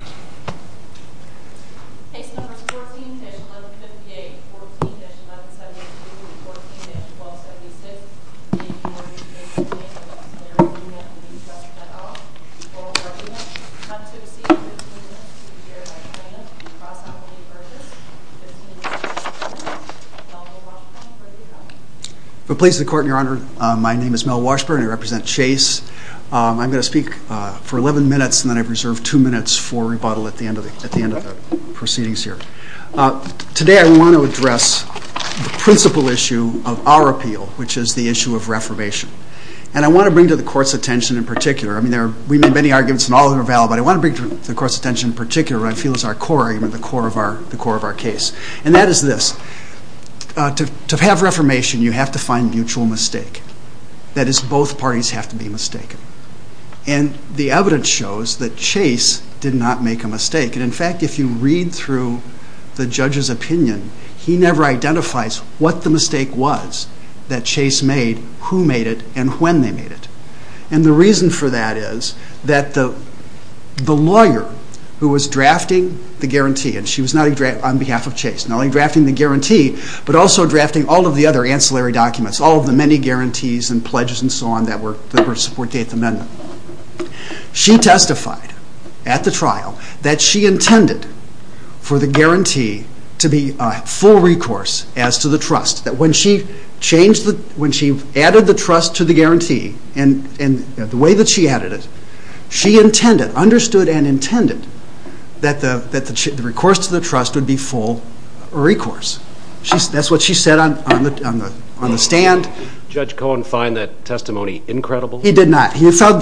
Chase number 14-1158, 14-1172 and 14-1276. The name is Morgan Chase Bank, and I'm Larry Winget Living Trust. I'm here to present the case. I'm here to present the case. I'm here to present the case. I'm here to present the case. I'm here to present the case. The Police of the Court, Your Honor. My name is Mel Washburn, and I represent Chase. I'm going to speak for 11 minutes, and then I've reserved 2 minutes for rebuttal at the end of the proceedings here. Today I want to address the principal issue of our appeal, which is the issue of reformation. And I want to bring to the Court's attention in particular, I mean, we made many arguments and all of them are valid, but I want to bring to the Court's attention in particular what I feel is our core argument, the core of our case. And that is this. To have reformation, you have to find mutual mistake. That is, both parties have to be mistaken. And the evidence shows that Chase did not make a mistake. And in fact, if you read through the judge's opinion, he never identifies what the mistake was that Chase made, who made it, and when they made it. And the reason for that is that the lawyer who was drafting the guarantee, and she was not on behalf of Chase, not only drafting the guarantee, but also drafting all of the other ancillary documents, all of the many guarantees and pledges and so on that were to support the Eighth Amendment. She testified at the trial that she intended for the guarantee to be full recourse as to the trust. That when she added the trust to the guarantee, and the way that she added it, she understood and intended that the recourse to the trust would be full recourse. That's what she said on the stand. Did Judge Cohen find that testimony incredible? He did not. He found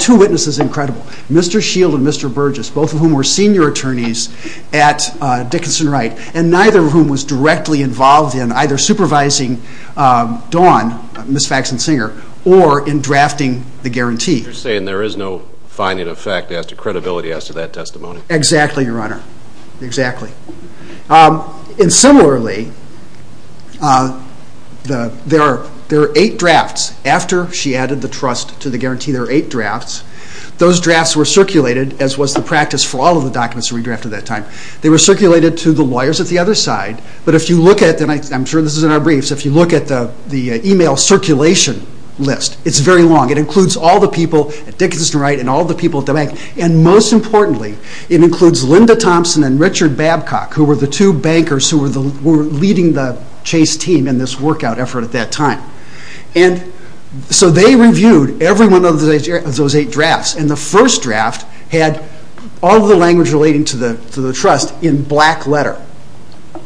two witnesses incredible, Mr. Shield and Mr. Burgess, both of whom were senior attorneys at Dickinson-Wright, and neither of whom was directly involved in either supervising Dawn, Ms. Faxon-Singer, or in drafting the guarantee. You're saying there is no finding of fact as to credibility as to that testimony? Exactly, Your Honor. Exactly. And similarly, there are eight drafts. After she added the trust to the guarantee, there are eight drafts. Those drafts were circulated, as was the practice for all of the documents that were redrafted at that time. They were circulated to the lawyers at the other side, but if you look at them, I'm sure this is in our briefs, if you look at the email circulation list, it's very long. It includes all the people at Dickinson-Wright and all the people at the bank, and most importantly, it includes Linda Thompson and Richard Babcock, who were the two bankers who were leading the Chase team in this workout effort at that time. And so they reviewed every one of those eight drafts, and the first draft had all the language relating to the trust in black letter.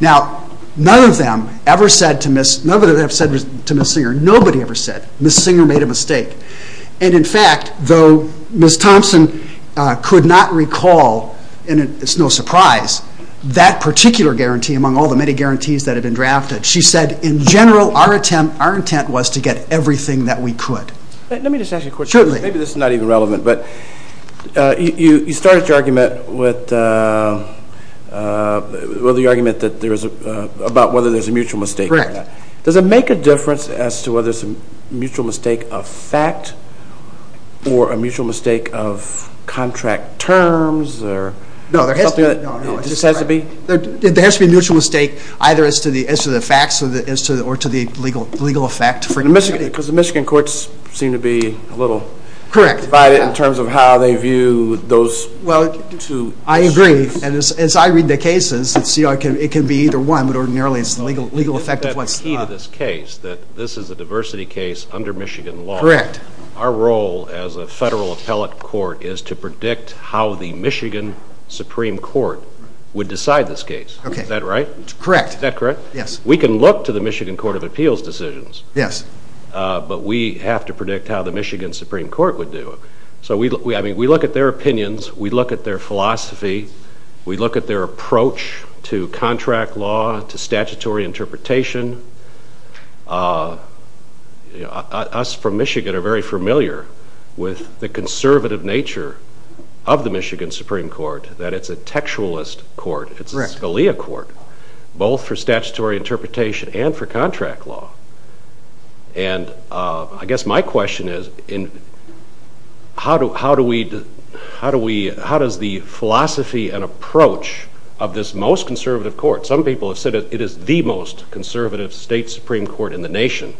Now, none of them ever said to Ms. Singer, nobody ever said, Ms. Singer made a mistake. And in fact, though Ms. Thompson could not recall, and it's no surprise, that particular guarantee among all the many guarantees that had been drafted, she said, in general, our intent was to get everything that we could. Let me just ask you a question. Maybe this is not even relevant. You started your argument about whether there's a mutual mistake. Does it make a difference as to whether it's a mutual mistake of fact or a mutual mistake of contract terms? No, there has to be a mutual mistake either as to the facts or to the legal effect. Because the Michigan courts seem to be a little divided in terms of how they view those two issues. I agree, and as I read the cases, it can be either one, but ordinarily it's the legal effect of what's… That's the key to this case, that this is a diversity case under Michigan law. Correct. Our role as a federal appellate court is to predict how the Michigan Supreme Court would decide this case. Is that right? Correct. Is that correct? Yes. We can look to the Michigan Court of Appeals decisions. Yes. But we have to predict how the Michigan Supreme Court would do it. We look at their opinions. We look at their philosophy. We look at their approach to contract law, to statutory interpretation. Us from Michigan are very familiar with the conservative nature of the Michigan Supreme Court, that it's a textualist court. It's a Scalia court, both for statutory interpretation and for contract law. And I guess my question is, how does the philosophy and approach of this most conservative court… Some people have said it is the most conservative state Supreme Court in the nation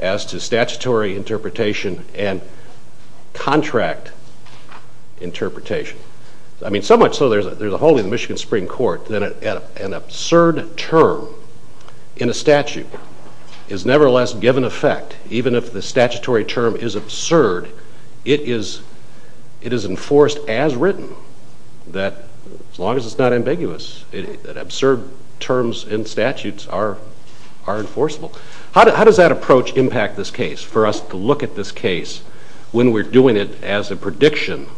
as to statutory interpretation and contract interpretation. I mean, so much so there's a hole in the Michigan Supreme Court that an absurd term in a statute is nevertheless given effect, even if the statutory term is absurd, it is enforced as written. As long as it's not ambiguous, absurd terms in statutes are enforceable. How does that approach impact this case, for us to look at this case when we're doing it as a prediction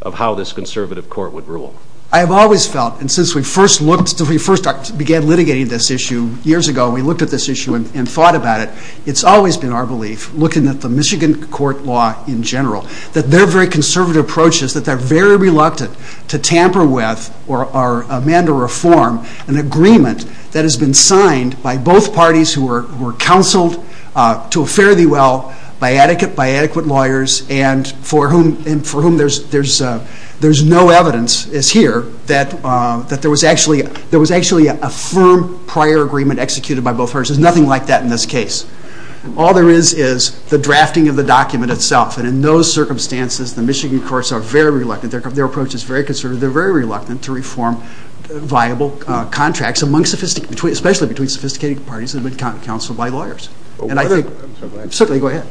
of how this conservative court would rule? I've always felt, and since we first began litigating this issue years ago, we looked at this issue and thought about it. It's always been our belief, looking at the Michigan court law in general, that they're very conservative approaches, that they're very reluctant to tamper with or amend or reform an agreement that has been signed by both parties who were counseled to a fare-thee-well by adequate lawyers and for whom there's no evidence, as here, that there was actually a firm prior agreement executed by both parties. There's nothing like that in this case. All there is, is the drafting of the document itself. And in those circumstances, the Michigan courts are very reluctant. Their approach is very conservative. They're very reluctant to reform viable contracts, especially between sophisticated parties that have been counseled by lawyers. Certainly, go ahead.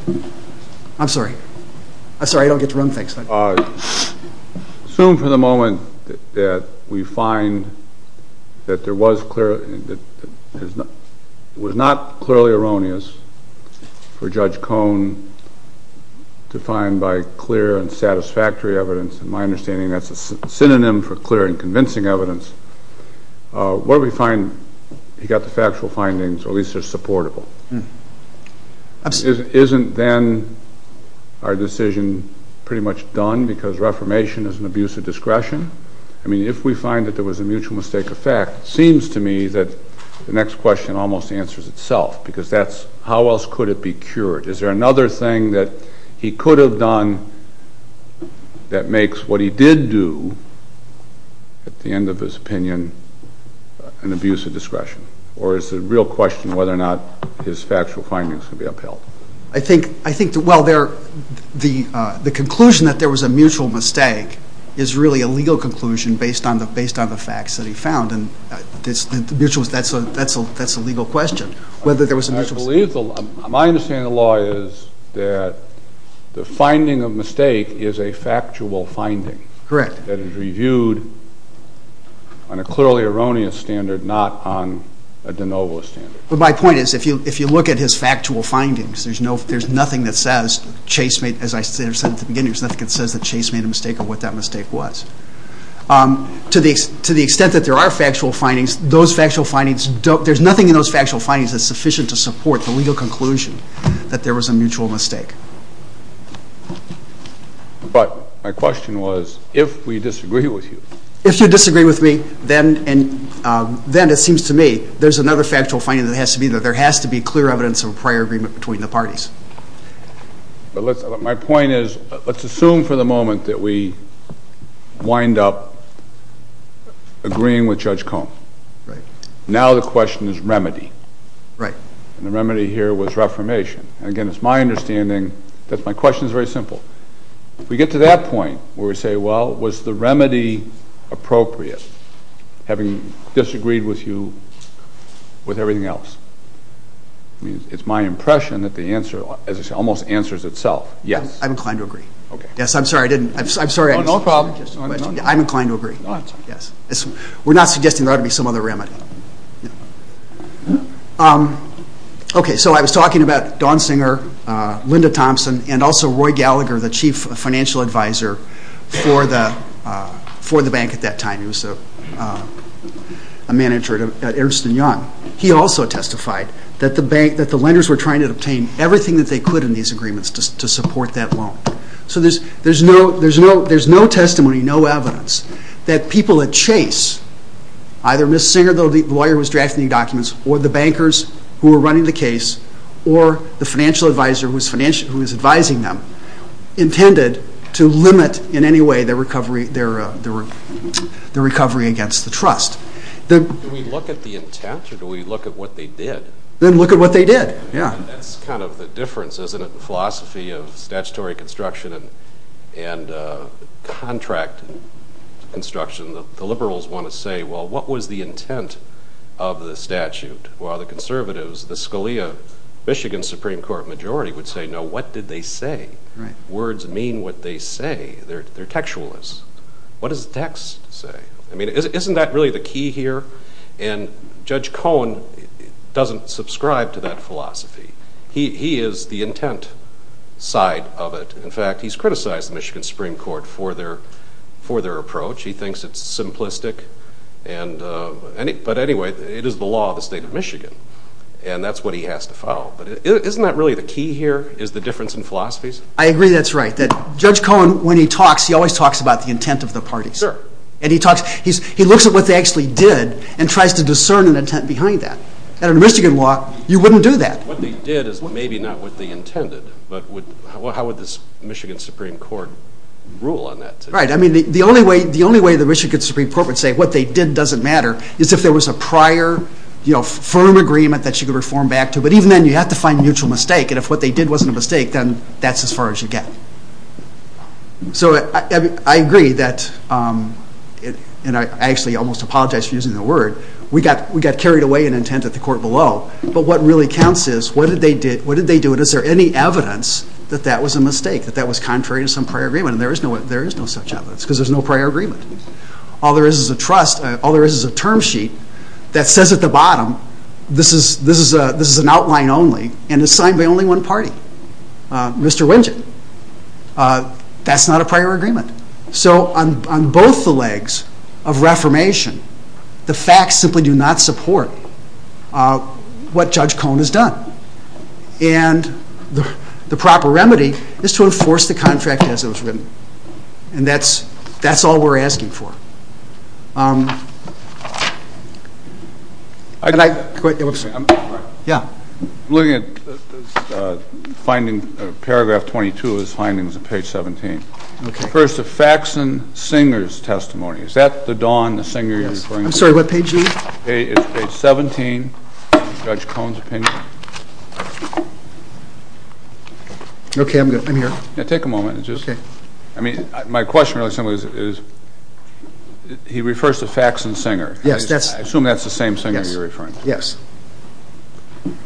I'm sorry, I don't get to run things. Assume for the moment that we find that there was not clearly erroneous for Judge Cohn to find by clear and satisfactory evidence. In my understanding, that's a synonym for clear and convincing evidence. What do we find? He got the factual findings, or at least they're supportable. Isn't then our decision pretty much done because reformation is an abuse of discretion? I mean, if we find that there was a mutual mistake of fact, it seems to me that the next question almost answers itself, because that's how else could it be cured. Is there another thing that he could have done that makes what he did do, at the end of his opinion, an abuse of discretion? Or is the real question whether or not his factual findings could be upheld? I think, well, the conclusion that there was a mutual mistake is really a legal conclusion based on the facts that he found, and that's a legal question, whether there was a mutual mistake. My understanding of the law is that the finding of mistake is a factual finding. Correct. That is reviewed on a clearly erroneous standard, not on a de novo standard. My point is, if you look at his factual findings, there's nothing that says, as I said at the beginning, there's nothing that says that Chase made a mistake or what that mistake was. To the extent that there are factual findings, there's nothing in those factual findings that's sufficient to support the legal conclusion that there was a mutual mistake. But my question was, if we disagree with you. If you disagree with me, then it seems to me there's another factual finding that has to be there. There has to be clear evidence of a prior agreement between the parties. My point is, let's assume for the moment that we wind up agreeing with Judge Cone. Right. Now the question is remedy. Right. And the remedy here was reformation. Again, it's my understanding that my question is very simple. If we get to that point where we say, well, was the remedy appropriate, having disagreed with you with everything else, it's my impression that the answer almost answers itself, yes. I'm inclined to agree. Okay. Yes, I'm sorry I didn't. No problem. I'm inclined to agree. No, I'm sorry. Yes. We're not suggesting there ought to be some other remedy. Okay, so I was talking about Dawn Singer, Linda Thompson, and also Roy Gallagher, the chief financial advisor for the bank at that time. He was a manager at Ernst & Young. He also testified that the lenders were trying to obtain everything that they could in these agreements to support that loan. So there's no testimony, no evidence that people at Chase, either Ms. Singer, the lawyer who was drafting the documents, or the bankers who were running the case, or the financial advisor who was advising them, intended to limit in any way their recovery against the trust. Do we look at the intent or do we look at what they did? Then look at what they did. That's kind of the difference, isn't it, in the philosophy of statutory construction and contract construction. The liberals want to say, well, what was the intent of the statute, while the conservatives, the Scalia-Michigan Supreme Court majority would say, no, what did they say? Words mean what they say. They're textualists. What does the text say? Isn't that really the key here? Judge Cohen doesn't subscribe to that philosophy. He is the intent side of it. In fact, he's criticized the Michigan Supreme Court for their approach. He thinks it's simplistic. But anyway, it is the law of the state of Michigan, and that's what he has to follow. Isn't that really the key here is the difference in philosophies? I agree that's right. Judge Cohen, when he talks, he always talks about the intent of the parties. He looks at what they actually did and tries to discern an intent behind that. Under Michigan law, you wouldn't do that. What they did is maybe not what they intended. How would the Michigan Supreme Court rule on that? The only way the Michigan Supreme Court would say what they did doesn't matter is if there was a prior firm agreement that you could reform back to. But even then, you have to find mutual mistake, and if what they did wasn't a mistake, then that's as far as you get. So I agree that, and I actually almost apologize for using the word, we got carried away in intent at the court below, but what really counts is what did they do, and is there any evidence that that was a mistake, that that was contrary to some prior agreement? And there is no such evidence because there's no prior agreement. All there is is a term sheet that says at the bottom, this is an outline only, and it's signed by only one party, Mr. Wynja. That's not a prior agreement. So on both the legs of reformation, the facts simply do not support what Judge Cohen has done. And the proper remedy is to enforce the contract as it was written, and that's all we're asking for. I'm looking at finding paragraph 22 of his findings on page 17. It refers to Faxon Singer's testimony. Is that the Don, the singer you're referring to? Yes. I'm sorry, what page are you? It's page 17, Judge Cohen's opinion. Okay, I'm good. I'm here. Yeah, take a moment. Okay. I mean, my question really simply is, he refers to Faxon Singer. I assume that's the same singer you're referring to. Yes.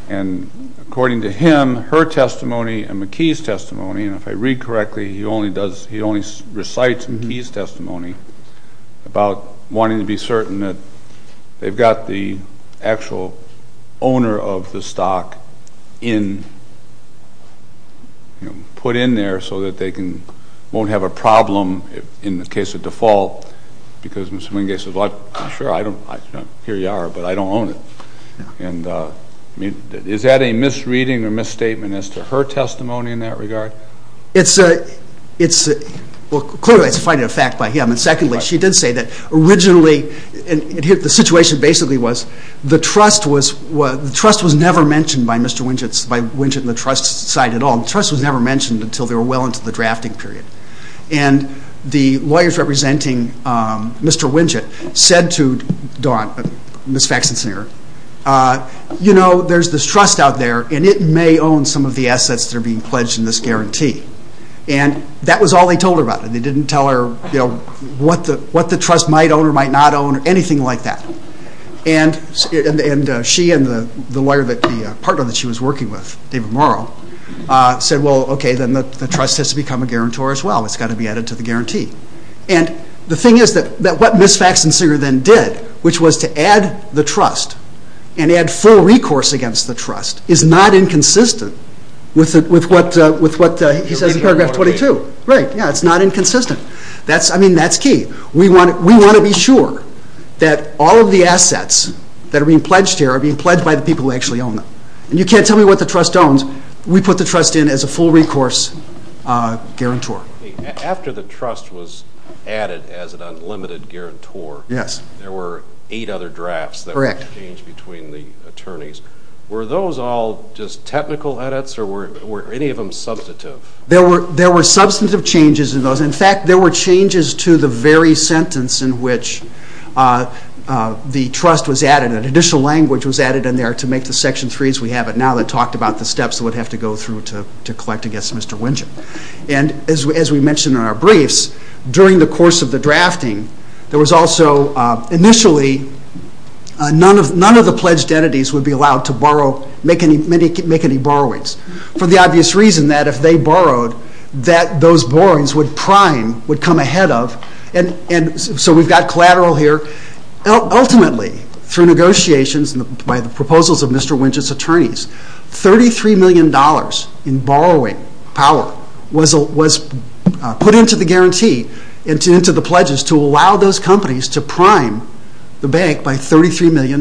And according to him, her testimony and McKee's testimony, and if I read correctly, he only recites McKee's testimony about wanting to be certain that they've got the actual owner of the stock put in there so that they won't have a problem in the case of default, because Ms. Wingate says, well, sure, here you are, but I don't own it. And is that a misreading or misstatement as to her testimony in that regard? Well, clearly it's a finding of fact by him. And secondly, she did say that originally the situation basically was the trust was never mentioned by Mr. Wingate and the trust side at all. The trust was never mentioned until they were well into the drafting period. And the lawyers representing Mr. Wingate said to Ms. Faxon Singer, you know, there's this trust out there, and it may own some of the assets that are being pledged in this guarantee. And that was all they told her about it. They didn't tell her what the trust might own or might not own or anything like that. And she and the partner that she was working with, David Morrow, said, well, okay, then the trust has to become a guarantor as well. It's got to be added to the guarantee. And the thing is that what Ms. Faxon Singer then did, which was to add the trust and add full recourse against the trust, is not inconsistent with what he says in paragraph 22. Right, yeah, it's not inconsistent. I mean, that's key. We want to be sure that all of the assets that are being pledged here are being pledged by the people who actually own them. And you can't tell me what the trust owns. We put the trust in as a full recourse guarantor. After the trust was added as an unlimited guarantor, there were eight other drafts that were changed between the attorneys. Were those all just technical edits, or were any of them substantive? There were substantive changes in those. In fact, there were changes to the very sentence in which the trust was added. An additional language was added in there to make the Section 3 as we have it now that talked about the steps that would have to go through to collect against Mr. Wynja. And as we mentioned in our briefs, during the course of the drafting, there was also initially none of the pledged entities would be allowed to make any borrowings. For the obvious reason that if they borrowed, that those borrowings would prime, would come ahead of. So we've got collateral here. Ultimately, through negotiations and by the proposals of Mr. Wynja's attorneys, $33 million in borrowing power was put into the guarantee, into the pledges to allow those companies to prime the bank by $33 million.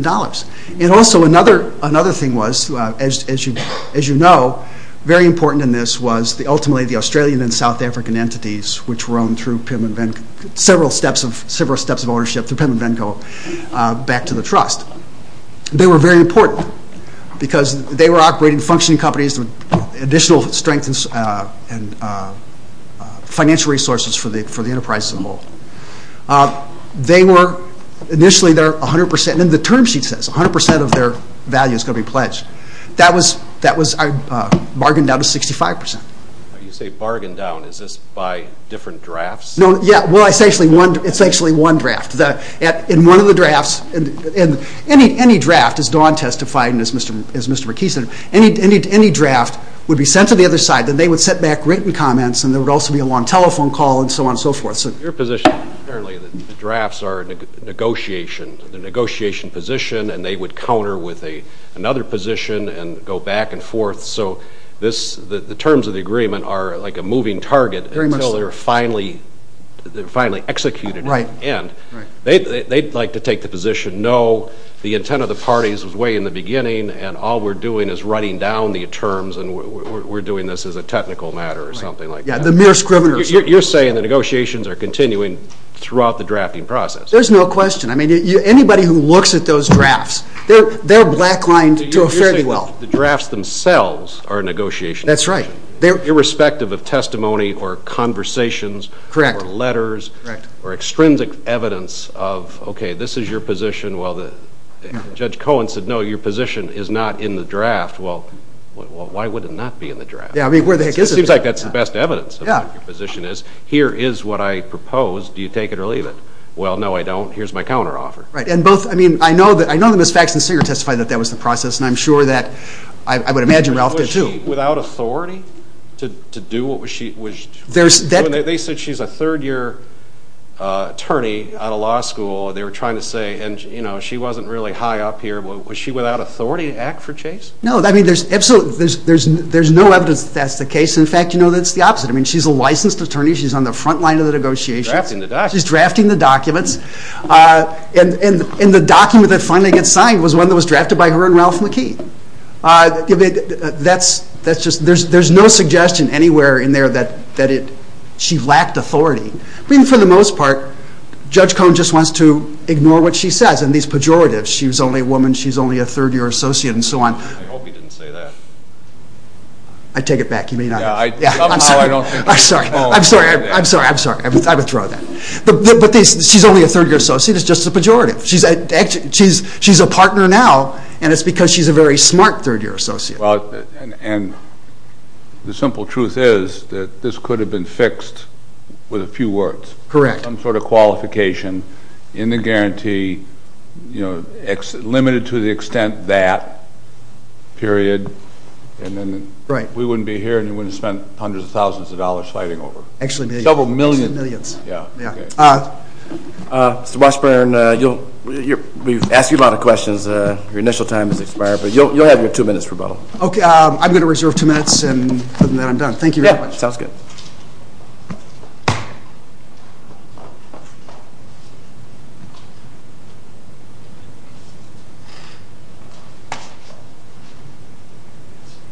And also another thing was, as you know, very important in this was ultimately the Australian and South African entities which were owned through several steps of ownership, through PIM and VENCO, back to the trust. They were very important because they were operating, functioning companies with additional strength and financial resources for the enterprise as a whole. They were, initially, they were 100% and the term sheet says 100% of their value is going to be pledged. That was bargained out at 65%. You say bargained out. Is this by different drafts? Yeah, well, it's actually one draft. In one of the drafts, any draft, as Dawn testified and as Mr. McKee said, any draft would be sent to the other side. Then they would send back written comments and there would also be a long telephone call and so on and so forth. Your position, apparently, the drafts are negotiation, the negotiation position, and they would counter with another position and go back and forth. So the terms of the agreement are like a moving target until they're finally executed. And they'd like to take the position, no, the intent of the parties was way in the beginning and all we're doing is writing down the terms and we're doing this as a technical matter or something like that. Yeah, the mere scriveners. You're saying the negotiations are continuing throughout the drafting process. There's no question. Anybody who looks at those drafts, they're black-lined to a fairly well. You're saying the drafts themselves are a negotiation. That's right. Irrespective of testimony or conversations or letters or extrinsic evidence of, okay, this is your position. Judge Cohen said, no, your position is not in the draft. Well, why would it not be in the draft? Yeah, I mean, where the heck is it? It seems like that's the best evidence of what your position is. Here is what I propose. Do you take it or leave it? Well, no, I don't. Here's my counteroffer. Right, and both, I mean, I know that Ms. Faxon-Singer testified that that was the process and I'm sure that I would imagine Ralph did too. Was she without authority to do what she was doing? They said she's a third-year attorney out of law school. They were trying to say, you know, she wasn't really high up here. Was she without authority to act for Chase? No, I mean, there's no evidence that that's the case. In fact, you know, it's the opposite. I mean, she's a licensed attorney. She's on the front line of the negotiations. She's drafting the documents. And the document that finally gets signed was one that was drafted by her and Ralph McKean. That's just, there's no suggestion anywhere in there that she lacked authority. I mean, for the most part, Judge Cohn just wants to ignore what she says and these pejoratives, she's only a woman, she's only a third-year associate, and so on. I hope he didn't say that. I take it back. I'm sorry, I'm sorry, I'm sorry, I'm sorry. I withdraw that. But she's only a third-year associate. It's just a pejorative. She's a partner now, and it's because she's a very smart third-year associate. And the simple truth is that this could have been fixed with a few words. Correct. Some sort of qualification in the guarantee, you know, limited to the extent that period, and then we wouldn't be here and you wouldn't have spent hundreds of thousands of dollars fighting over. Actually millions. Several million. Actually millions. Mr. Washburn, we've asked you a lot of questions. Your initial time has expired, but you'll have your two minutes rebuttal. Okay. I'm going to reserve two minutes and then I'm done. Thank you very much. Sounds good.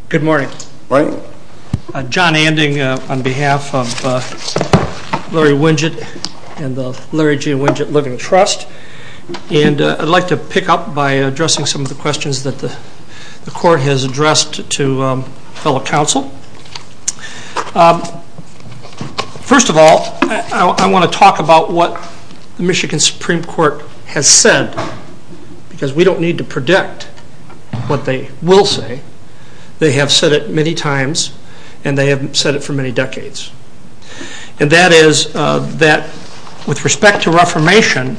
Good morning. Good morning. John Anding on behalf of Larry Winget and the Larry G. Winget Living Trust. And I'd like to pick up by addressing some of the questions that the court has addressed to fellow counsel. First of all, I want to talk about what the Michigan Supreme Court has said, because we don't need to predict what they will say. They have said it many times and they have said it for many decades. And that is that with respect to Reformation,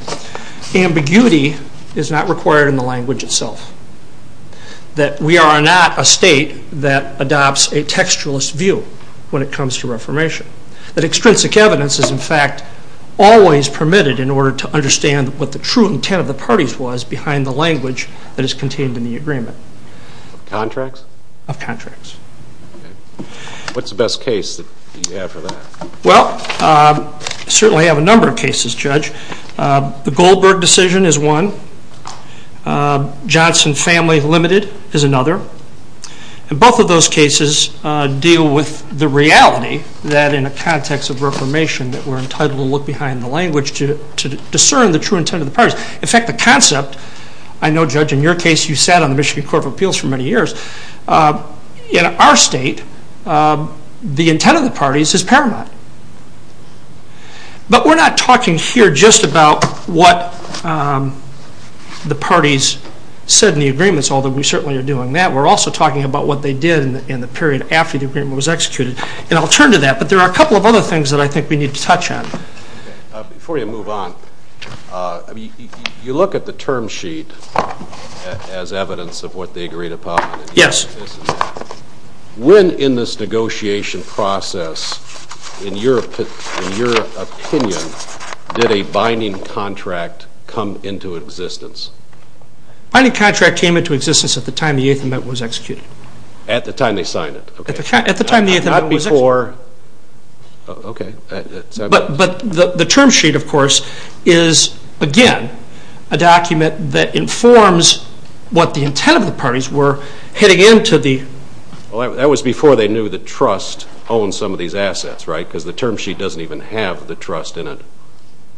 ambiguity is not required in the language itself. That we are not a state that adopts a textualist view when it comes to Reformation. That extrinsic evidence is, in fact, always permitted in order to understand what the true intent of the parties was behind the language that is contained in the agreement. Of contracts? Of contracts. What's the best case that you have for that? Well, I certainly have a number of cases, Judge. The Goldberg decision is one. Johnson Family Limited is another. And both of those cases deal with the reality that in a context of Reformation that we're entitled to look behind the language to discern the true intent of the parties. In fact, the concept, I know, Judge, in your case, you sat on the Michigan Court of Appeals for many years. In our state, the intent of the parties is paramount. But we're not talking here just about what the parties said in the agreements, although we certainly are doing that. We're also talking about what they did in the period after the agreement was executed. And I'll turn to that, but there are a couple of other things that I think we need to touch on. Before you move on, you look at the term sheet as evidence of what they agreed upon. Yes. When in this negotiation process, in your opinion, did a binding contract come into existence? A binding contract came into existence at the time the Eighth Amendment was executed. At the time they signed it. At the time the Eighth Amendment was executed. Not before. Okay. But the term sheet, of course, is, again, a document that informs what the intent of the parties were heading into the... Well, that was before they knew the trust owned some of these assets, right? Because the term sheet doesn't even have the trust in it.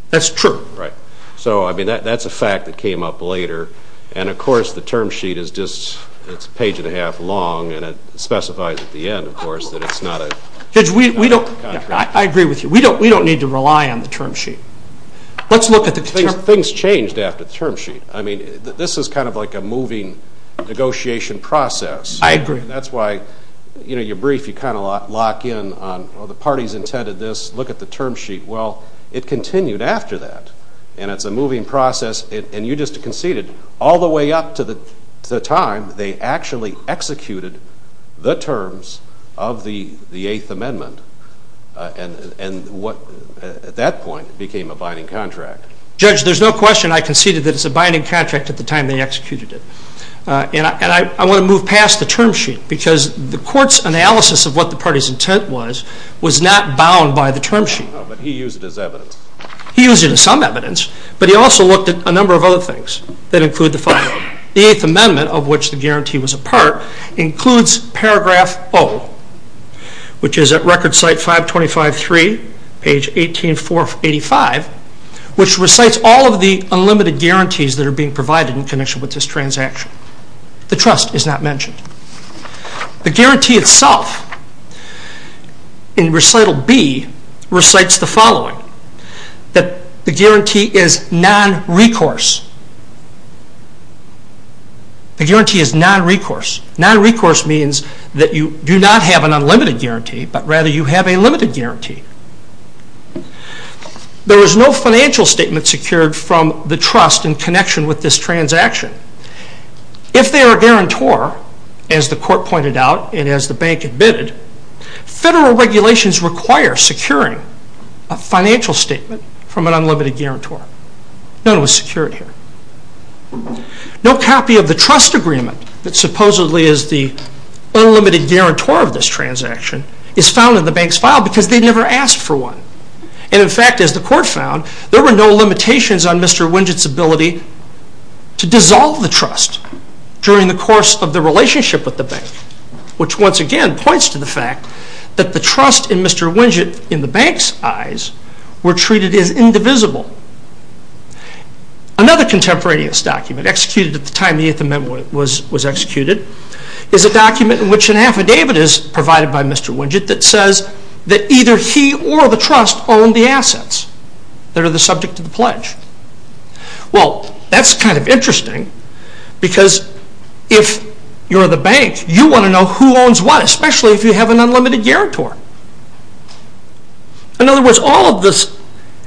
That's true. Right. So, I mean, that's a fact that came up later. And, of course, the term sheet is just a page and a half long, and it specifies at the end, of course, that it's not a contract. Judge, we don't... I agree with you. We don't need to rely on the term sheet. Let's look at the term sheet. Things changed after the term sheet. I mean, this is kind of like a moving negotiation process. I agree. And that's why, you know, your brief, you kind of lock in on, well, the parties intended this. Look at the term sheet. Well, it continued after that, and it's a moving process. And you just conceded all the way up to the time they actually executed the terms of the Eighth Amendment, and at that point it became a binding contract. Judge, there's no question I conceded that it's a binding contract at the time they executed it. And I want to move past the term sheet because the court's analysis of what the party's intent was was not bound by the term sheet. No, but he used it as evidence. He used it as some evidence, but he also looked at a number of other things that include the file. The Eighth Amendment, of which the guarantee was a part, includes paragraph O, which is at record site 525.3, page 18.485, which recites all of the unlimited guarantees that are being provided in connection with this transaction. The trust is not mentioned. The guarantee itself, in recital B, recites the following, that the guarantee is non-recourse. The guarantee is non-recourse. Non-recourse means that you do not have an unlimited guarantee, but rather you have a limited guarantee. There is no financial statement secured from the trust in connection with this transaction. If they are a guarantor, as the court pointed out and as the bank admitted, federal regulations require securing a financial statement from an unlimited guarantor. None was secured here. No copy of the trust agreement that supposedly is the unlimited guarantor of this transaction is found in the bank's file because they never asked for one. In fact, as the court found, there were no limitations on Mr. Winget's ability to dissolve the trust during the course of the relationship with the bank, which once again points to the fact that the trust in Mr. Winget, in the bank's eyes, were treated as indivisible. Another contemporaneous document, executed at the time the Eighth Amendment was executed, is a document in which an affidavit is provided by Mr. Winget that says that either he or the trust own the assets that are the subject of the pledge. Well, that's kind of interesting because if you're the bank, you want to know who owns what, especially if you have an unlimited guarantor. In other words, all of the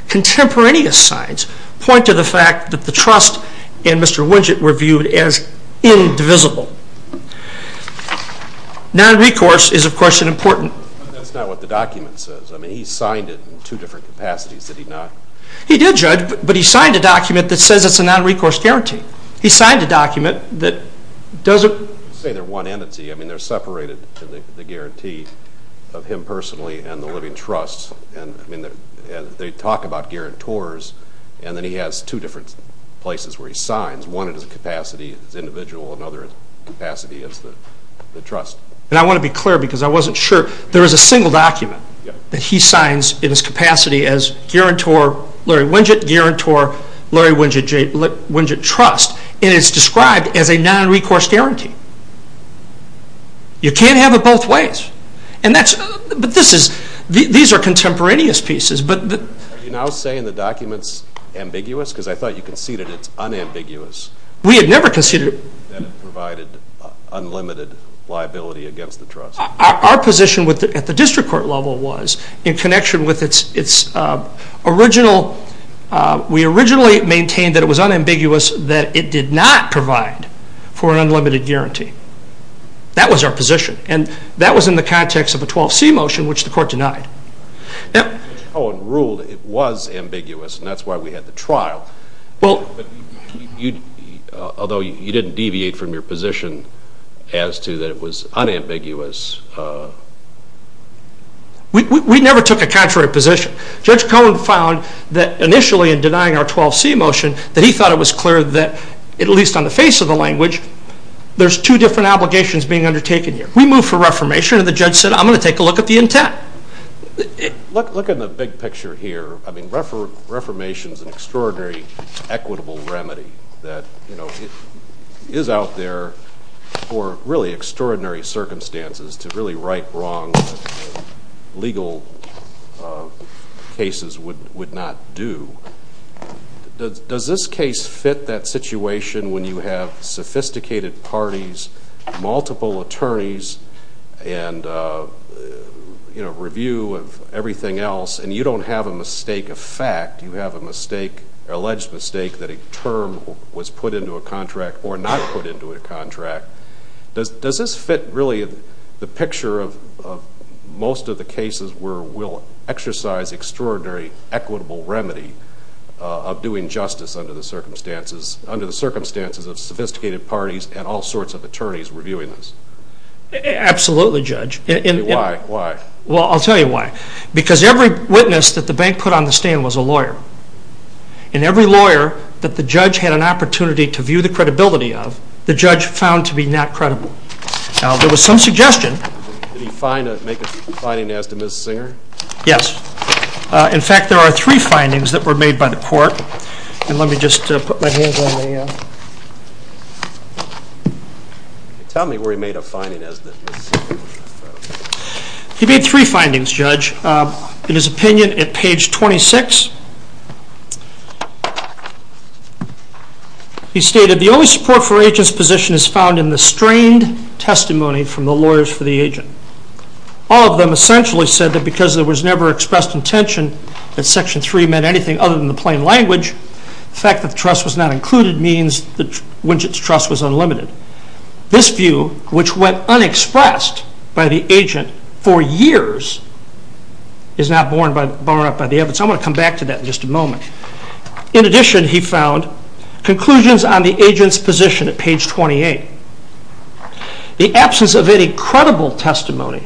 contemporaneous signs point to the fact that the trust and Mr. Winget were viewed as indivisible. Non-recourse is, of course, important. That's not what the document says. I mean, he signed it in two different capacities. Did he not? He did, Judge, but he signed a document that says it's a non-recourse guarantee. He signed a document that doesn't... You say they're one entity. I mean, they're separated, the guarantee of him personally and the living trust. I mean, they talk about guarantors, and then he has two different places where he signs. One in his capacity as individual, another capacity as the trust. And I want to be clear because I wasn't sure. There is a single document that he signs in his capacity as guarantor Larry Winget, guarantor Larry Winget Trust, and it's described as a non-recourse guarantee. You can't have it both ways. But these are contemporaneous pieces. Are you now saying the document's ambiguous? Because I thought you conceded it's unambiguous. We had never conceded it. That it provided unlimited liability against the trust. Our position at the district court level was, in connection with its original, we originally maintained that it was unambiguous that it did not provide for an unlimited guarantee. That was our position, and that was in the context of a 12C motion, which the court denied. Judge Cohen ruled it was ambiguous, and that's why we had the trial. Although you didn't deviate from your position as to that it was unambiguous. We never took a contrary position. Judge Cohen found that initially in denying our 12C motion that he thought it was clear that, at least on the face of the language, there's two different obligations being undertaken here. We moved for reformation, and the judge said, I'm going to take a look at the intent. Look at the big picture here. I mean, reformation is an extraordinary, equitable remedy that is out there for really extraordinary circumstances to really right wrongs that legal cases would not do. Does this case fit that situation when you have sophisticated parties, multiple attorneys, and review of everything else, and you don't have a mistake of fact. You have an alleged mistake that a term was put into a contract or not put into a contract. Does this fit really the picture of most of the cases where we'll exercise extraordinary, equitable remedy of doing justice under the circumstances of sophisticated parties and all sorts of attorneys reviewing this? Absolutely, Judge. Why? Well, I'll tell you why. Because every witness that the bank put on the stand was a lawyer. And every lawyer that the judge had an opportunity to view the credibility of, the judge found to be not credible. Now, there was some suggestion. Did he make a finding as to Ms. Singer? Yes. In fact, there are three findings that were made by the court. And let me just put my hands on the... Tell me where he made a finding as to Ms. Singer. He made three findings, Judge. In his opinion, at page 26, he stated, the only support for agent's position is found in the strained testimony from the lawyers for the agent. All of them essentially said that because there was never expressed intention that Section 3 meant anything other than the plain language, the fact that the trust was not included means Winchett's trust was unlimited. This view, which went unexpressed by the agent for years, is not borne up by the evidence. I'm going to come back to that in just a moment. In addition, he found conclusions on the agent's position at page 28. The absence of any credible testimonial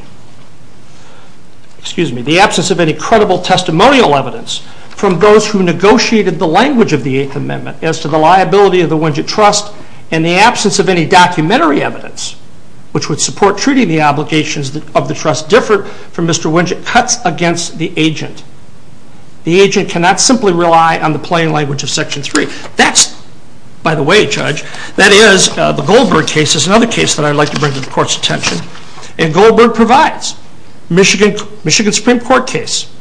evidence from those who negotiated the language of the Eighth Amendment as to the liability of the Winchett Trust, and the absence of any documentary evidence, which would support treating the obligations of the trust, differ from Mr. Winchett's cuts against the agent. The agent cannot simply rely on the plain language of Section 3. That's, by the way, Judge, That is, the Goldberg case is another case that I'd like to bring to the Court's attention. And Goldberg provides. Michigan Supreme Court case,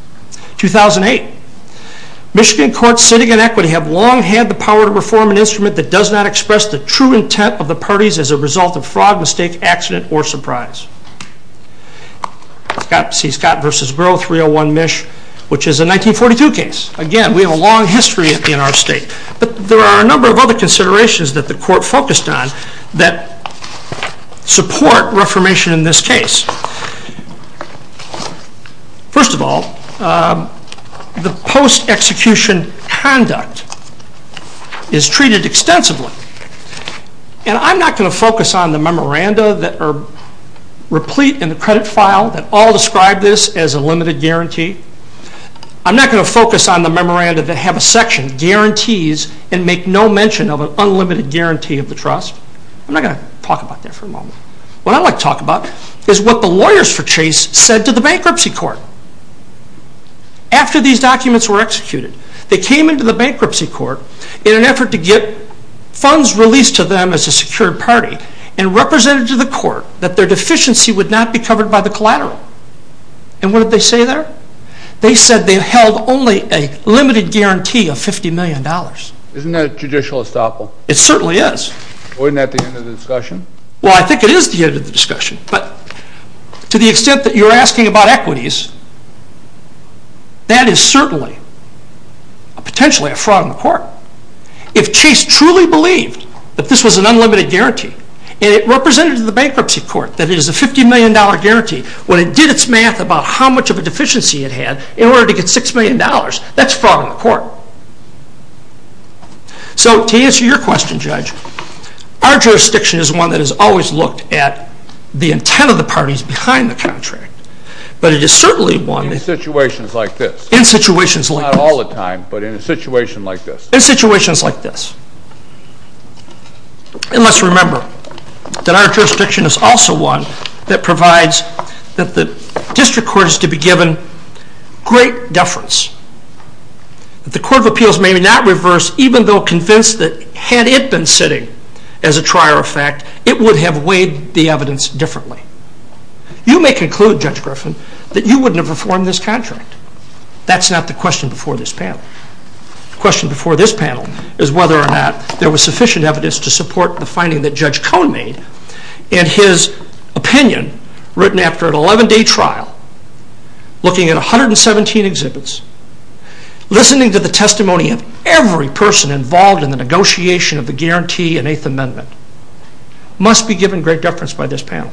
2008. Michigan courts sitting in equity have long had the power to reform an instrument that does not express the true intent of the parties as a result of fraud, mistake, accident, or surprise. C. Scott v. Burrough, 301 MISH, which is a 1942 case. Again, we have a long history in our state. But there are a number of other considerations that the Court focused on that support reformation in this case. First of all, the post-execution conduct is treated extensively. And I'm not going to focus on the memoranda that are replete in the credit file that all describe this as a limited guarantee. I'm not going to focus on the memoranda that have a section, guarantees, and make no mention of an unlimited guarantee of the trust. I'm not going to talk about that for a moment. What I'd like to talk about is what the lawyers for Chase said to the bankruptcy court. After these documents were executed, they came into the bankruptcy court in an effort to get funds released to them as a secured party and represented to the court that their deficiency would not be covered by the collateral. And what did they say there? They said they held only a limited guarantee of $50 million. Isn't that a judicial estoppel? It certainly is. Wasn't that the end of the discussion? Well, I think it is the end of the discussion. But to the extent that you're asking about equities, that is certainly potentially a fraud in the court. If Chase truly believed that this was an unlimited guarantee, and it represented to the bankruptcy court that it is a $50 million guarantee when it did its math about how much of a deficiency it had in order to get $6 million, that's fraud in the court. So to answer your question, Judge, our jurisdiction is one that has always looked at the intent of the parties behind the contract. But it is certainly one that... In situations like this. In situations like this. Not all the time, but in a situation like this. In situations like this. And let's remember that our jurisdiction is also one that provides that the district court is to be given great deference. The Court of Appeals may not reverse, even though convinced that had it been sitting as a trier of fact, it would have weighed the evidence differently. You may conclude, Judge Griffin, that you wouldn't have reformed this contract. That's not the question before this panel. The question before this panel is whether or not there was sufficient evidence to support the finding that Judge Cohn made, and his opinion, written after an 11-day trial, looking at 117 exhibits, listening to the testimony of every person involved in the negotiation of the guarantee and Eighth Amendment, must be given great deference by this panel.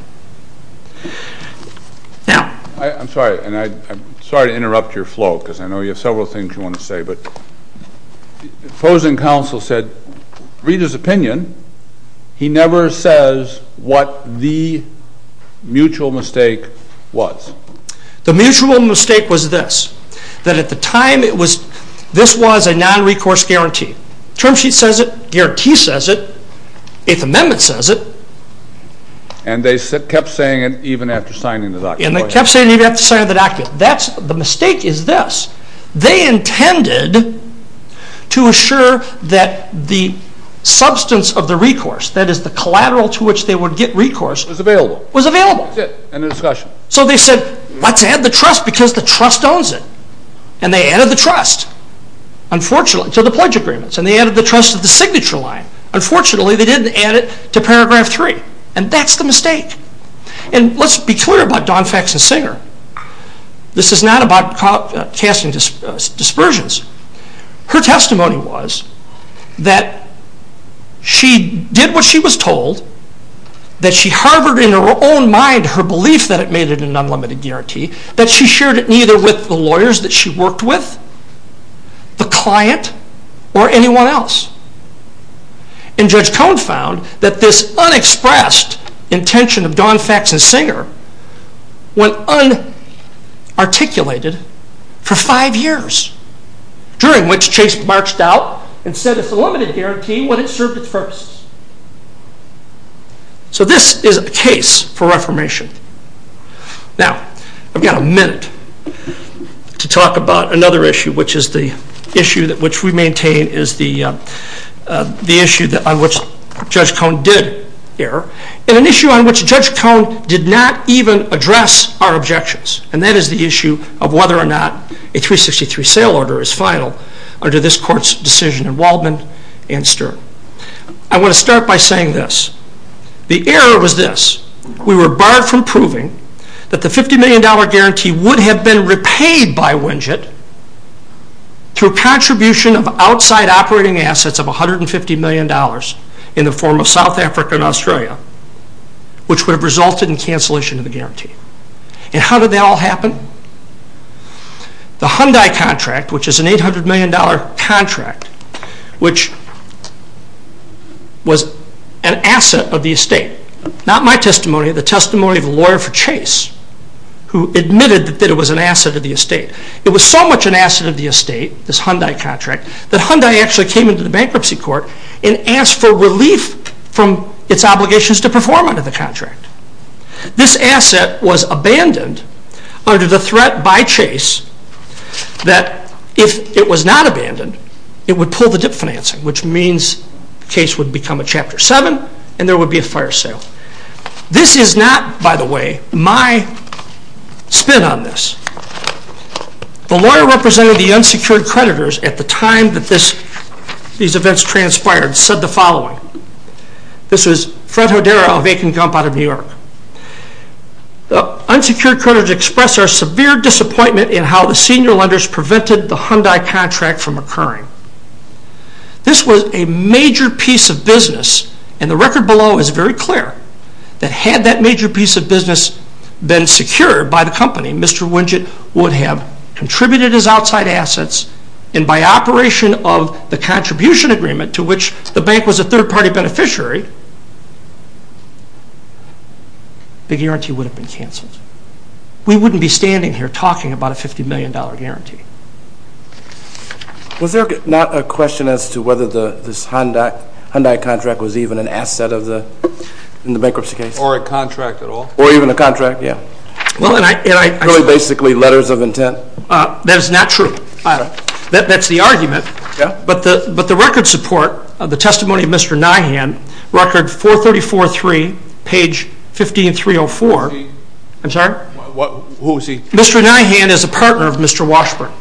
Now... I'm sorry to interrupt your flow, because I know you have several things you want to say, but the opposing counsel said, read his opinion. He never says what the mutual mistake was. The mutual mistake was this. That at the time, this was a non-recourse guarantee. The term sheet says it. The guarantee says it. The Eighth Amendment says it. And they kept saying it even after signing the document. And they kept saying it even after signing the document. The mistake is this. They intended to assure that the substance of the recourse, that is the collateral to which they would get recourse, was available. So they said, let's add the trust, because the trust owns it. And they added the trust to the pledge agreements. And they added the trust to the signature line. Unfortunately, they didn't add it to paragraph three. And that's the mistake. And let's be clear about Dawn Faxon Singer. This is not about casting dispersions. Her testimony was that she did what she was told, that she harbored in her own mind her belief that it made it an unlimited guarantee, that she shared it neither with the lawyers that she worked with, the client, or anyone else. And Judge Cohn found that this unexpressed intention of Dawn Faxon Singer went unarticulated for five years, during which Chase marched out and said it's a limited guarantee when it served its purpose. So this is a case for reformation. Now, I've got a minute to talk about another issue, which we maintain is the issue on which Judge Cohn did error, and an issue on which Judge Cohn did not even address our objections. And that is the issue of whether or not a 363 sale order is final under this court's decision in Waldman and Stern. I want to start by saying this. The error was this. We were barred from proving that the $50 million guarantee would have been repaid by Winget through contribution of outside operating assets of $150 million in the form of South Africa and Australia, which would have resulted in cancellation of the guarantee. And how did that all happen? The Hyundai contract, which is an $800 million contract, which was an asset of the estate, not my testimony, the testimony of a lawyer for Chase who admitted that it was an asset of the estate. It was so much an asset of the estate, this Hyundai contract, that Hyundai actually came into the bankruptcy court and asked for relief from its obligations to perform under the contract. This asset was abandoned under the threat by Chase that if it was not abandoned, it would pull the dip financing, which means the case would become a Chapter 7 and there would be a fire sale. This is not, by the way, my spin on this. The lawyer representing the unsecured creditors at the time that these events transpired said the following. This was Fred Hodera of Akin Gump out of New York. The unsecured creditors expressed their severe disappointment in how the senior lenders prevented the Hyundai contract from occurring. This was a major piece of business, and the record below is very clear that had that major piece of business been secured by the company, Mr. Winget would have contributed his outside assets and by operation of the contribution agreement to which the bank was a third-party beneficiary, the guarantee would have been canceled. We wouldn't be standing here talking about a $50 million guarantee. Was there not a question as to whether this Hyundai contract was even an asset in the bankruptcy case? Or a contract at all? Or even a contract, yeah. Really basically letters of intent? That is not true. That's the argument, but the record support, the testimony of Mr. Nyhan, record 434.3, page 15.304. I'm sorry? Who is he? Mr. Nyhan is a partner of Mr. Washburn,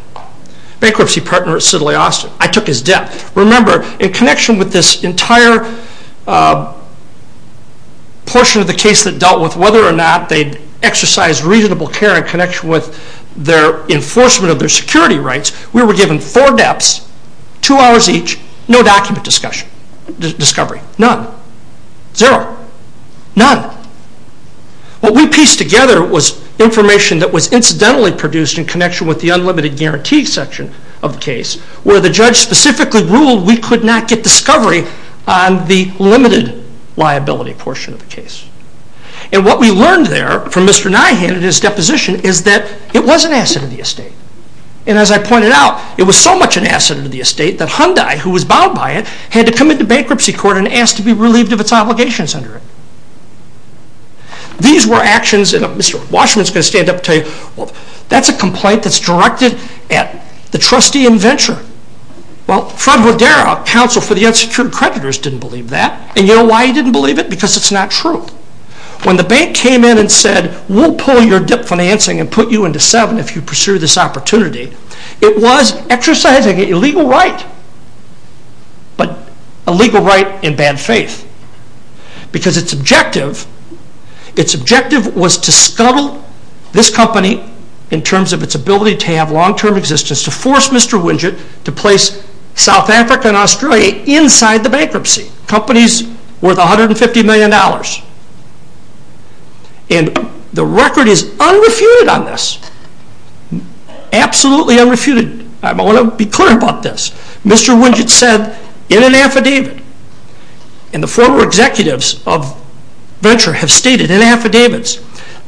bankruptcy partner at Siddeley Austin. I took his debt. Remember, in connection with this entire portion of the case that dealt with whether or not they'd exercised reasonable care in connection with their enforcement of their security rights, we were given four debts, two hours each, no document discovery. None. Zero. None. What we pieced together was information that was incidentally produced in connection with the unlimited guarantee section of the case where the judge specifically ruled we could not get discovery on the limited liability portion of the case. And what we learned there from Mr. Nyhan in his deposition is that it was an asset of the estate. And as I pointed out, it was so much an asset of the estate that Hyundai, who was bound by it, had to come into bankruptcy court and asked to be relieved of its obligations under it. These were actions, and Mr. Washburn's going to stand up and tell you, well, that's a complaint that's directed at the trustee in venture. Well, Fred Rodera, counsel for the unsecured creditors, didn't believe that. And you know why he didn't believe it? Because it's not true. When the bank came in and said, we'll pull your debt financing and put you into seven if you pursue this opportunity, it was exercising an illegal right. But a legal right in bad faith. Because its objective was to scuttle this company in terms of its ability to have long-term existence, to force Mr. Winget to place South Africa and Australia inside the bankruptcy. Companies worth $150 million. And the record is unrefuted on this. Absolutely unrefuted. I want to be clear about this. Mr. Winget said in an affidavit, and the former executives of venture have stated in affidavits,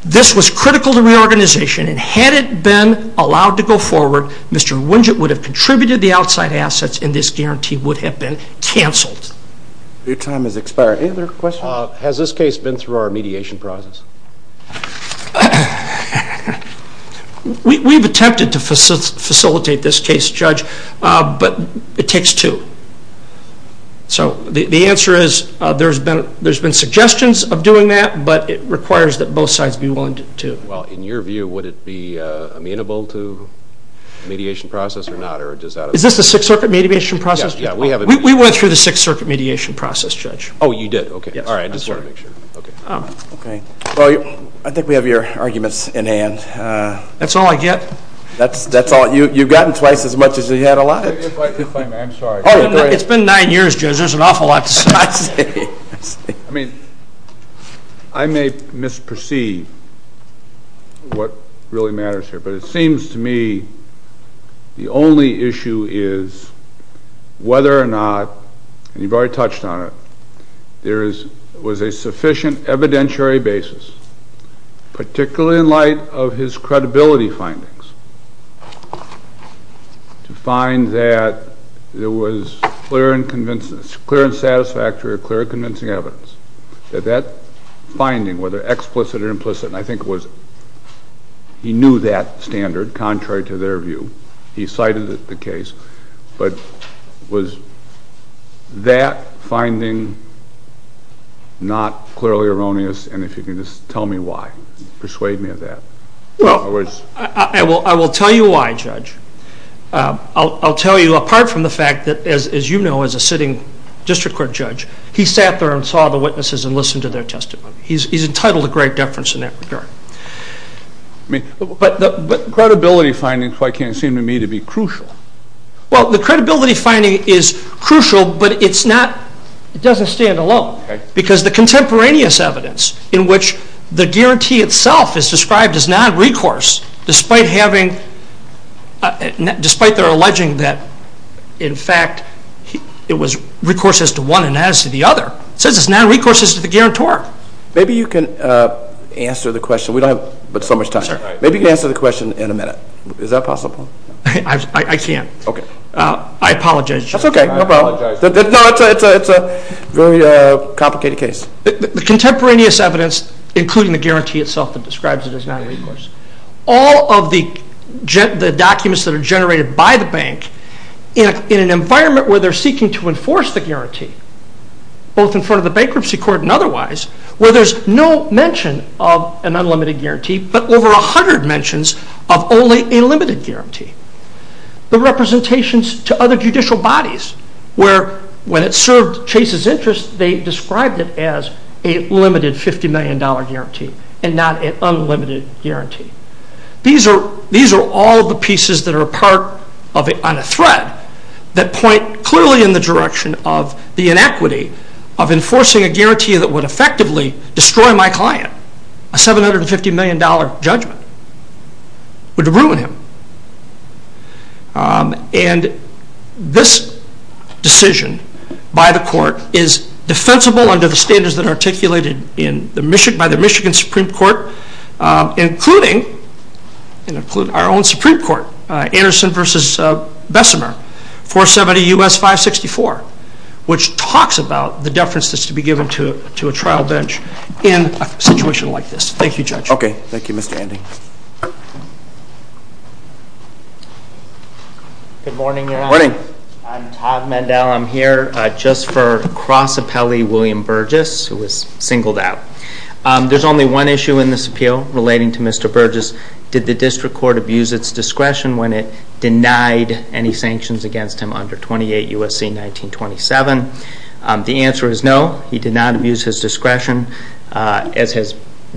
this was critical to reorganization, and had it been allowed to go forward, Mr. Winget would have contributed the outside assets and this guarantee would have been canceled. Your time has expired. Any other questions? Has this case been through our mediation process? We've attempted to facilitate this case, Judge, but it takes two. So the answer is there's been suggestions of doing that, but it requires that both sides be willing to. Well, in your view, would it be amenable to mediation process or not? Is this the Sixth Circuit mediation process? We went through the Sixth Circuit mediation process, Judge. Oh, you did? Okay. Well, I think we have your arguments in hand. That's all I get? You've gotten twice as much as you had allowed. It's been nine years, Judge. There's an awful lot to say. I may misperceive what really matters here, but it seems to me the only issue is whether or not, and you've already touched on it, there was a sufficient evidentiary basis, particularly in light of his credibility findings, to find that there was clear and satisfactory or clear and convincing evidence that that finding, whether explicit or implicit, and I think he knew that standard, contrary to their view. He cited the case. But was that finding not clearly erroneous? And if you can just tell me why. Persuade me of that. Well, I will tell you why, Judge. I'll tell you apart from the fact that, as you know, as a sitting district court judge, he sat there and saw the witnesses and listened to their testimony. He's entitled to great deference in that regard. But credibility findings quite can't seem to me to be crucial. Well, the credibility finding is crucial, but it doesn't stand alone because the contemporaneous evidence in which the guarantee itself is described as non-recourse, despite their alleging that, in fact, it was recourse as to one and not as to the other, Maybe you can answer the question. We don't have so much time. Maybe you can answer the question in a minute. Is that possible? I can't. Okay. I apologize, Judge. That's okay. No problem. No, it's a very complicated case. The contemporaneous evidence, including the guarantee itself that describes it as non-recourse, all of the documents that are generated by the bank in an environment where they're seeking to enforce the guarantee, both in front of the bankruptcy court and otherwise, where there's no mention of an unlimited guarantee, but over 100 mentions of only a limited guarantee. The representations to other judicial bodies where, when it served Chase's interests, they described it as a limited $50 million guarantee and not an unlimited guarantee. These are all the pieces that are part on a thread that point clearly in the direction of the inequity of enforcing a guarantee that would effectively destroy my client. A $750 million judgment would ruin him. And this decision by the court is defensible under the standards that are articulated by the Michigan Supreme Court, including our own Supreme Court, Anderson v. Bessemer, 470 U.S. 564, which talks about the deference that's to be given to a trial bench in a situation like this. Thank you, Judge. Okay. Thank you, Mr. Andy. Good morning, Your Honor. Good morning. I'm Todd Mandel. I'm here just for Cross Appellee William Burgess, who was singled out. There's only one issue in this appeal relating to Mr. Burgess. Did the district court abuse its discretion when it denied any sanctions against him under 28 U.S.C. 1927? The answer is no. He did not abuse his discretion. As has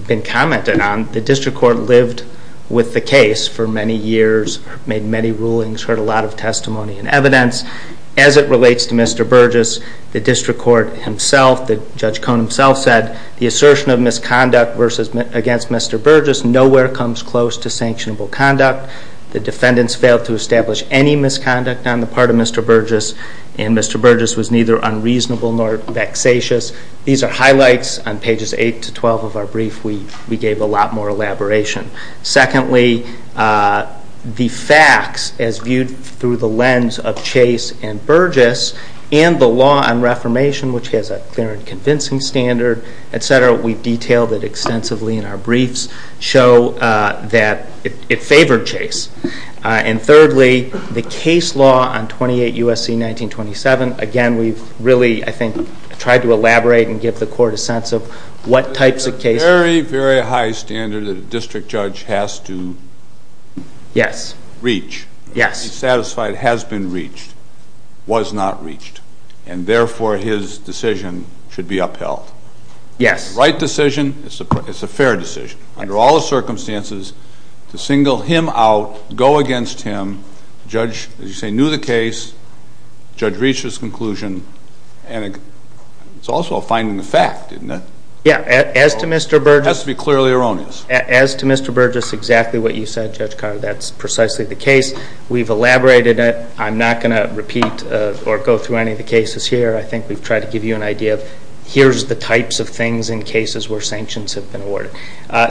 been commented on, the district court lived with the case for many years, made many rulings, heard a lot of testimony and evidence. As it relates to Mr. Burgess, the district court himself, Judge Cohn himself, said the assertion of misconduct against Mr. Burgess nowhere comes close to sanctionable conduct. The defendants failed to establish any misconduct on the part of Mr. Burgess, and Mr. Burgess was neither unreasonable nor vexatious. These are highlights on pages 8 to 12 of our brief. We gave a lot more elaboration. Secondly, the facts, as viewed through the lens of Chase and Burgess, and the law on reformation, which has a clear and convincing standard, we've detailed it extensively in our briefs, show that it favored Chase. And thirdly, the case law on 28 U.S.C. 1927. Again, we've really, I think, tried to elaborate and give the court a sense of what types of cases. It's a very, very high standard that a district judge has to reach. He's satisfied it has been reached, was not reached, and therefore his decision should be upheld. The right decision is a fair decision. Under all the circumstances, to single him out, go against him, the judge, as you say, knew the case, the judge reached his conclusion, and it's also a finding of fact, isn't it? It has to be clearly erroneous. As to Mr. Burgess, exactly what you said, Judge Carter, that's precisely the case. We've elaborated it. I'm not going to repeat or go through any of the cases here. I think we've tried to give you an idea of here's the types of things in cases where sanctions have been awarded.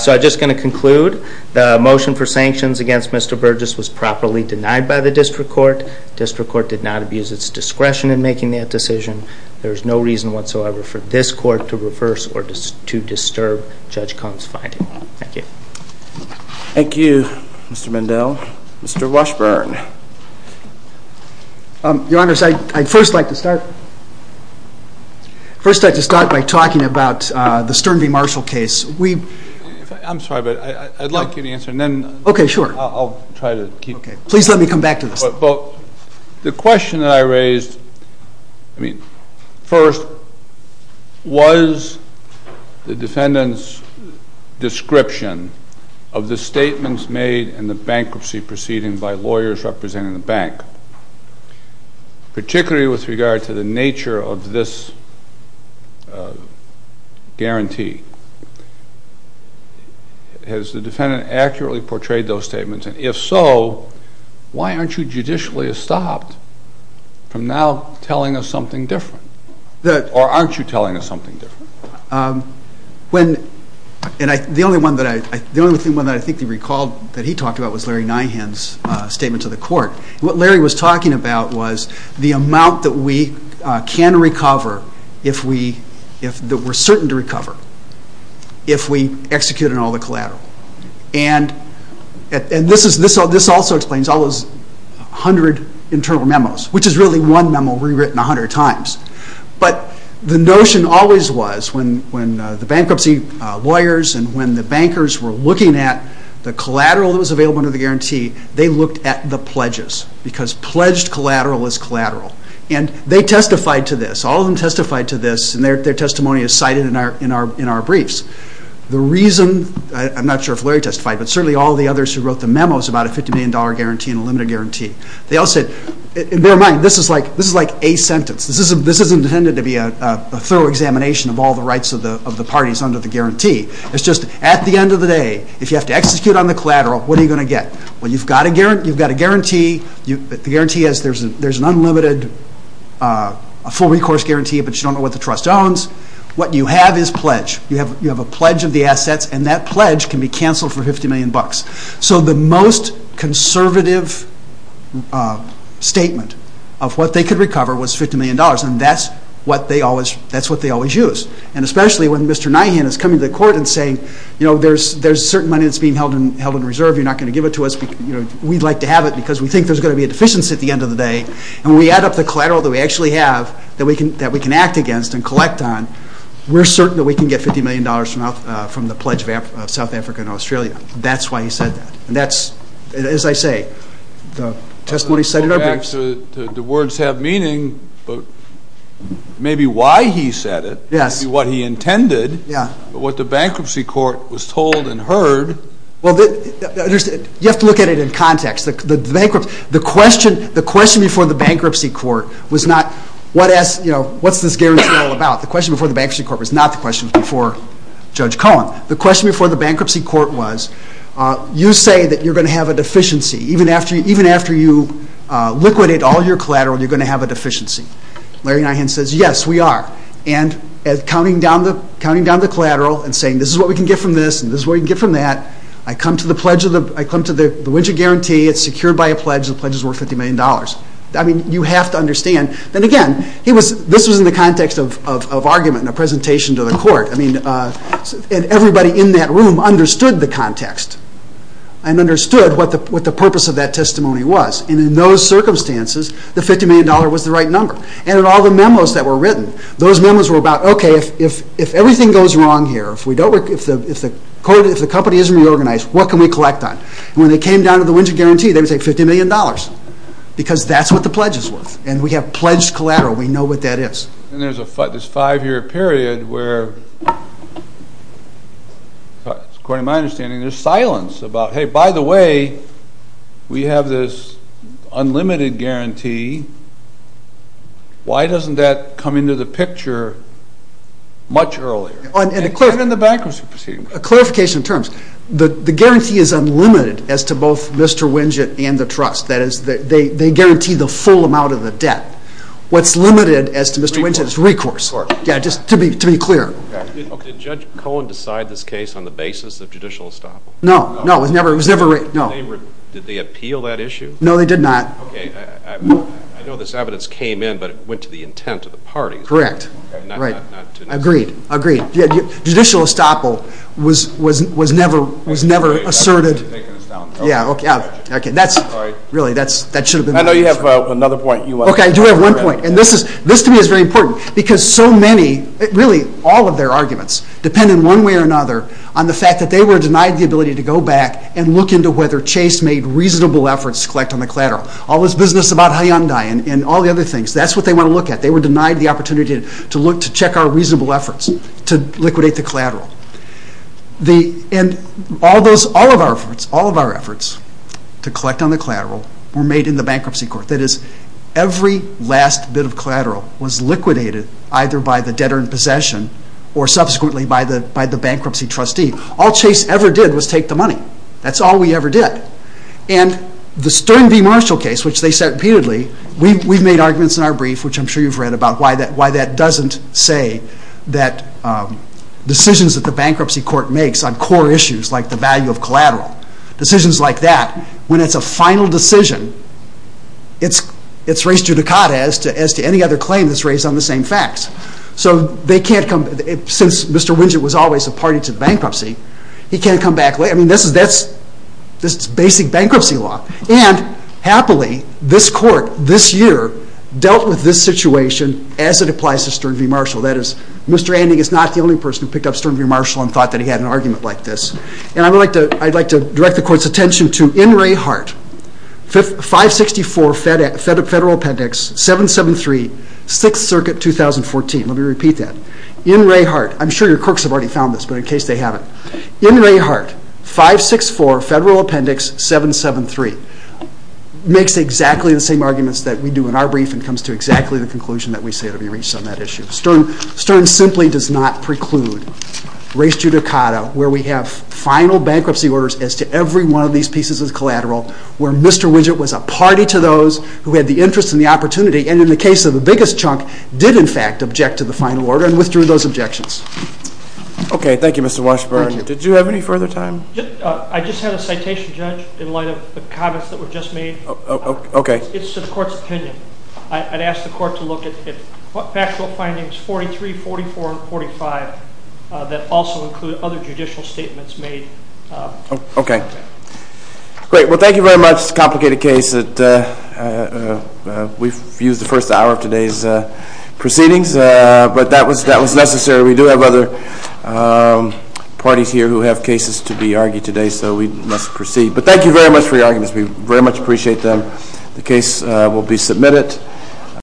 So I'm just going to conclude. The motion for sanctions against Mr. Burgess was properly denied by the district court. The district court did not abuse its discretion in making that decision. There is no reason whatsoever for this court to reverse or to disturb Judge Cohen's finding. Thank you. Thank you, Mr. Mendell. Mr. Washburn. Your Honors, I'd first like to start by talking about the Stern v. Marshall case. I'm sorry, but I'd like you to answer, and then I'll try to keep going. Please let me come back to this. The question that I raised first was the defendant's description of the statements made in the bankruptcy proceeding by lawyers representing the bank, particularly with regard to the nature of this guarantee. Has the defendant accurately portrayed those statements? And if so, why aren't you judicially stopped from now telling us something different? Or aren't you telling us something different? The only one that I think he recalled that he talked about was Larry Nyhan's statement to the court. What Larry was talking about was the amount that we can recover, that we're certain to recover, if we execute on all the collateral. And this also explains all those 100 internal memos, which is really one memo rewritten 100 times. But the notion always was when the bankruptcy lawyers and when the bankers were looking at the collateral that was available under the guarantee, they looked at the pledges, because pledged collateral is collateral. And they testified to this. All of them testified to this, and their testimony is cited in our briefs. I'm not sure if Larry testified, but certainly all the others who wrote the memos about a $50 million guarantee and a limited guarantee. They all said, bear in mind, this is like a sentence. This isn't intended to be a thorough examination of all the rights of the parties under the guarantee. It's just at the end of the day, if you have to execute on the collateral, what are you going to get? Well, you've got a guarantee. The guarantee is there's an unlimited full recourse guarantee, but you don't know what the trust owns. What you have is pledge. You have a pledge of the assets, and that pledge can be canceled for $50 million. So the most conservative statement of what they could recover was $50 million, and that's what they always use. And especially when Mr. Nyhan is coming to the court and saying, you know, there's certain money that's being held in reserve. You're not going to give it to us. We'd like to have it because we think there's going to be a deficiency at the end of the day. And when we add up the collateral that we actually have that we can act against and collect on, we're certain that we can get $50 million from the Pledge of South Africa and Australia. That's why he said that. And that's, as I say, the testimony said in our briefs. To go back to the words have meaning, maybe why he said it, maybe what he intended, but what the bankruptcy court was told and heard. Well, you have to look at it in context. The question before the bankruptcy court was not, what's this guarantee all about? The question before the bankruptcy court was not the question before Judge Cohen. The question before the bankruptcy court was, you say that you're going to have a deficiency. Even after you liquidate all your collateral, you're going to have a deficiency. Larry Nyhan says, yes, we are. And counting down the collateral and saying, this is what we can get from this and this is what we can get from that. I come to the winter guarantee. It's secured by a pledge. The pledge is worth $50 million. You have to understand. And, again, this was in the context of argument and a presentation to the court. And everybody in that room understood the context and understood what the purpose of that testimony was. And in those circumstances, the $50 million was the right number. And in all the memos that were written, those memos were about, okay, if everything goes wrong here, if the company isn't reorganized, what can we collect on? When they came down to the winter guarantee, they would say $50 million because that's what the pledge is worth. And we have pledged collateral. We know what that is. And there's this five-year period where, according to my understanding, there's silence about, hey, by the way, we have this unlimited guarantee. Why doesn't that come into the picture much earlier? And even in the bankruptcy proceedings. A clarification in terms. The guarantee is unlimited as to both Mr. Winget and the trust. That is, they guarantee the full amount of the debt. What's limited as to Mr. Winget is recourse. Yeah, just to be clear. Did Judge Cohen decide this case on the basis of judicial estoppel? No. No, it was never. No. Did they appeal that issue? No, they did not. Okay. I know this evidence came in, but it went to the intent of the parties. Correct. Right. Agreed. Agreed. Judicial estoppel was never asserted. Yeah, okay. Really, that should have been the answer. I know you have another point. Okay, I do have one point. And this, to me, is very important. Because so many, really all of their arguments depend in one way or another on the fact that they were denied the ability to go back and look into whether Chase made reasonable efforts to collect on the collateral. All this business about Hyundai and all the other things, that's what they want to look at. They were denied the opportunity to check our reasonable efforts to liquidate the collateral. And all of our efforts to collect on the collateral were made in the bankruptcy court. That is, every last bit of collateral was liquidated either by the debtor in possession or subsequently by the bankruptcy trustee. All Chase ever did was take the money. That's all we ever did. And the Stern v. Marshall case, which they set repeatedly, we've made arguments in our brief, which I'm sure you've read, about why that doesn't say that decisions that the bankruptcy court makes on core issues like the value of collateral, decisions like that, when it's a final decision, it's raised judicata as to any other claim that's raised on the same facts. So they can't come, since Mr. Windsor was always a party to bankruptcy, he can't come back later. I mean, that's basic bankruptcy law. And, happily, this court, this year, dealt with this situation as it applies to Stern v. Marshall. That is, Mr. Anding is not the only person who picked up Stern v. Marshall and thought that he had an argument like this. And I'd like to direct the court's attention to, in Ray Hart, 564 Federal Appendix 773, 6th Circuit, 2014. Let me repeat that. In Ray Hart. I'm sure your crooks have already found this, but in case they haven't. In Ray Hart, 564 Federal Appendix 773, makes exactly the same arguments that we do in our brief and comes to exactly the conclusion that we say to be reached on that issue. Stern simply does not preclude raised judicata where we have final bankruptcy orders as to every one of these pieces of collateral where Mr. Windsor was a party to those who had the interest and the opportunity and, in the case of the biggest chunk, did, in fact, object to the final order and withdrew those objections. Okay. Thank you, Mr. Washburn. Thank you. Did you have any further time? I just had a citation, Judge, in light of the comments that were just made. Okay. It's the court's opinion. I'd ask the court to look at factual findings 43, 44, and 45 that also include other judicial statements made. Okay. Great. Well, thank you very much. It's a complicated case that we've used the first hour of today's proceedings, but that was necessary. We do have other parties here who have cases to be argued today, so we must proceed. But thank you very much for your arguments. We very much appreciate them. The case will be submitted.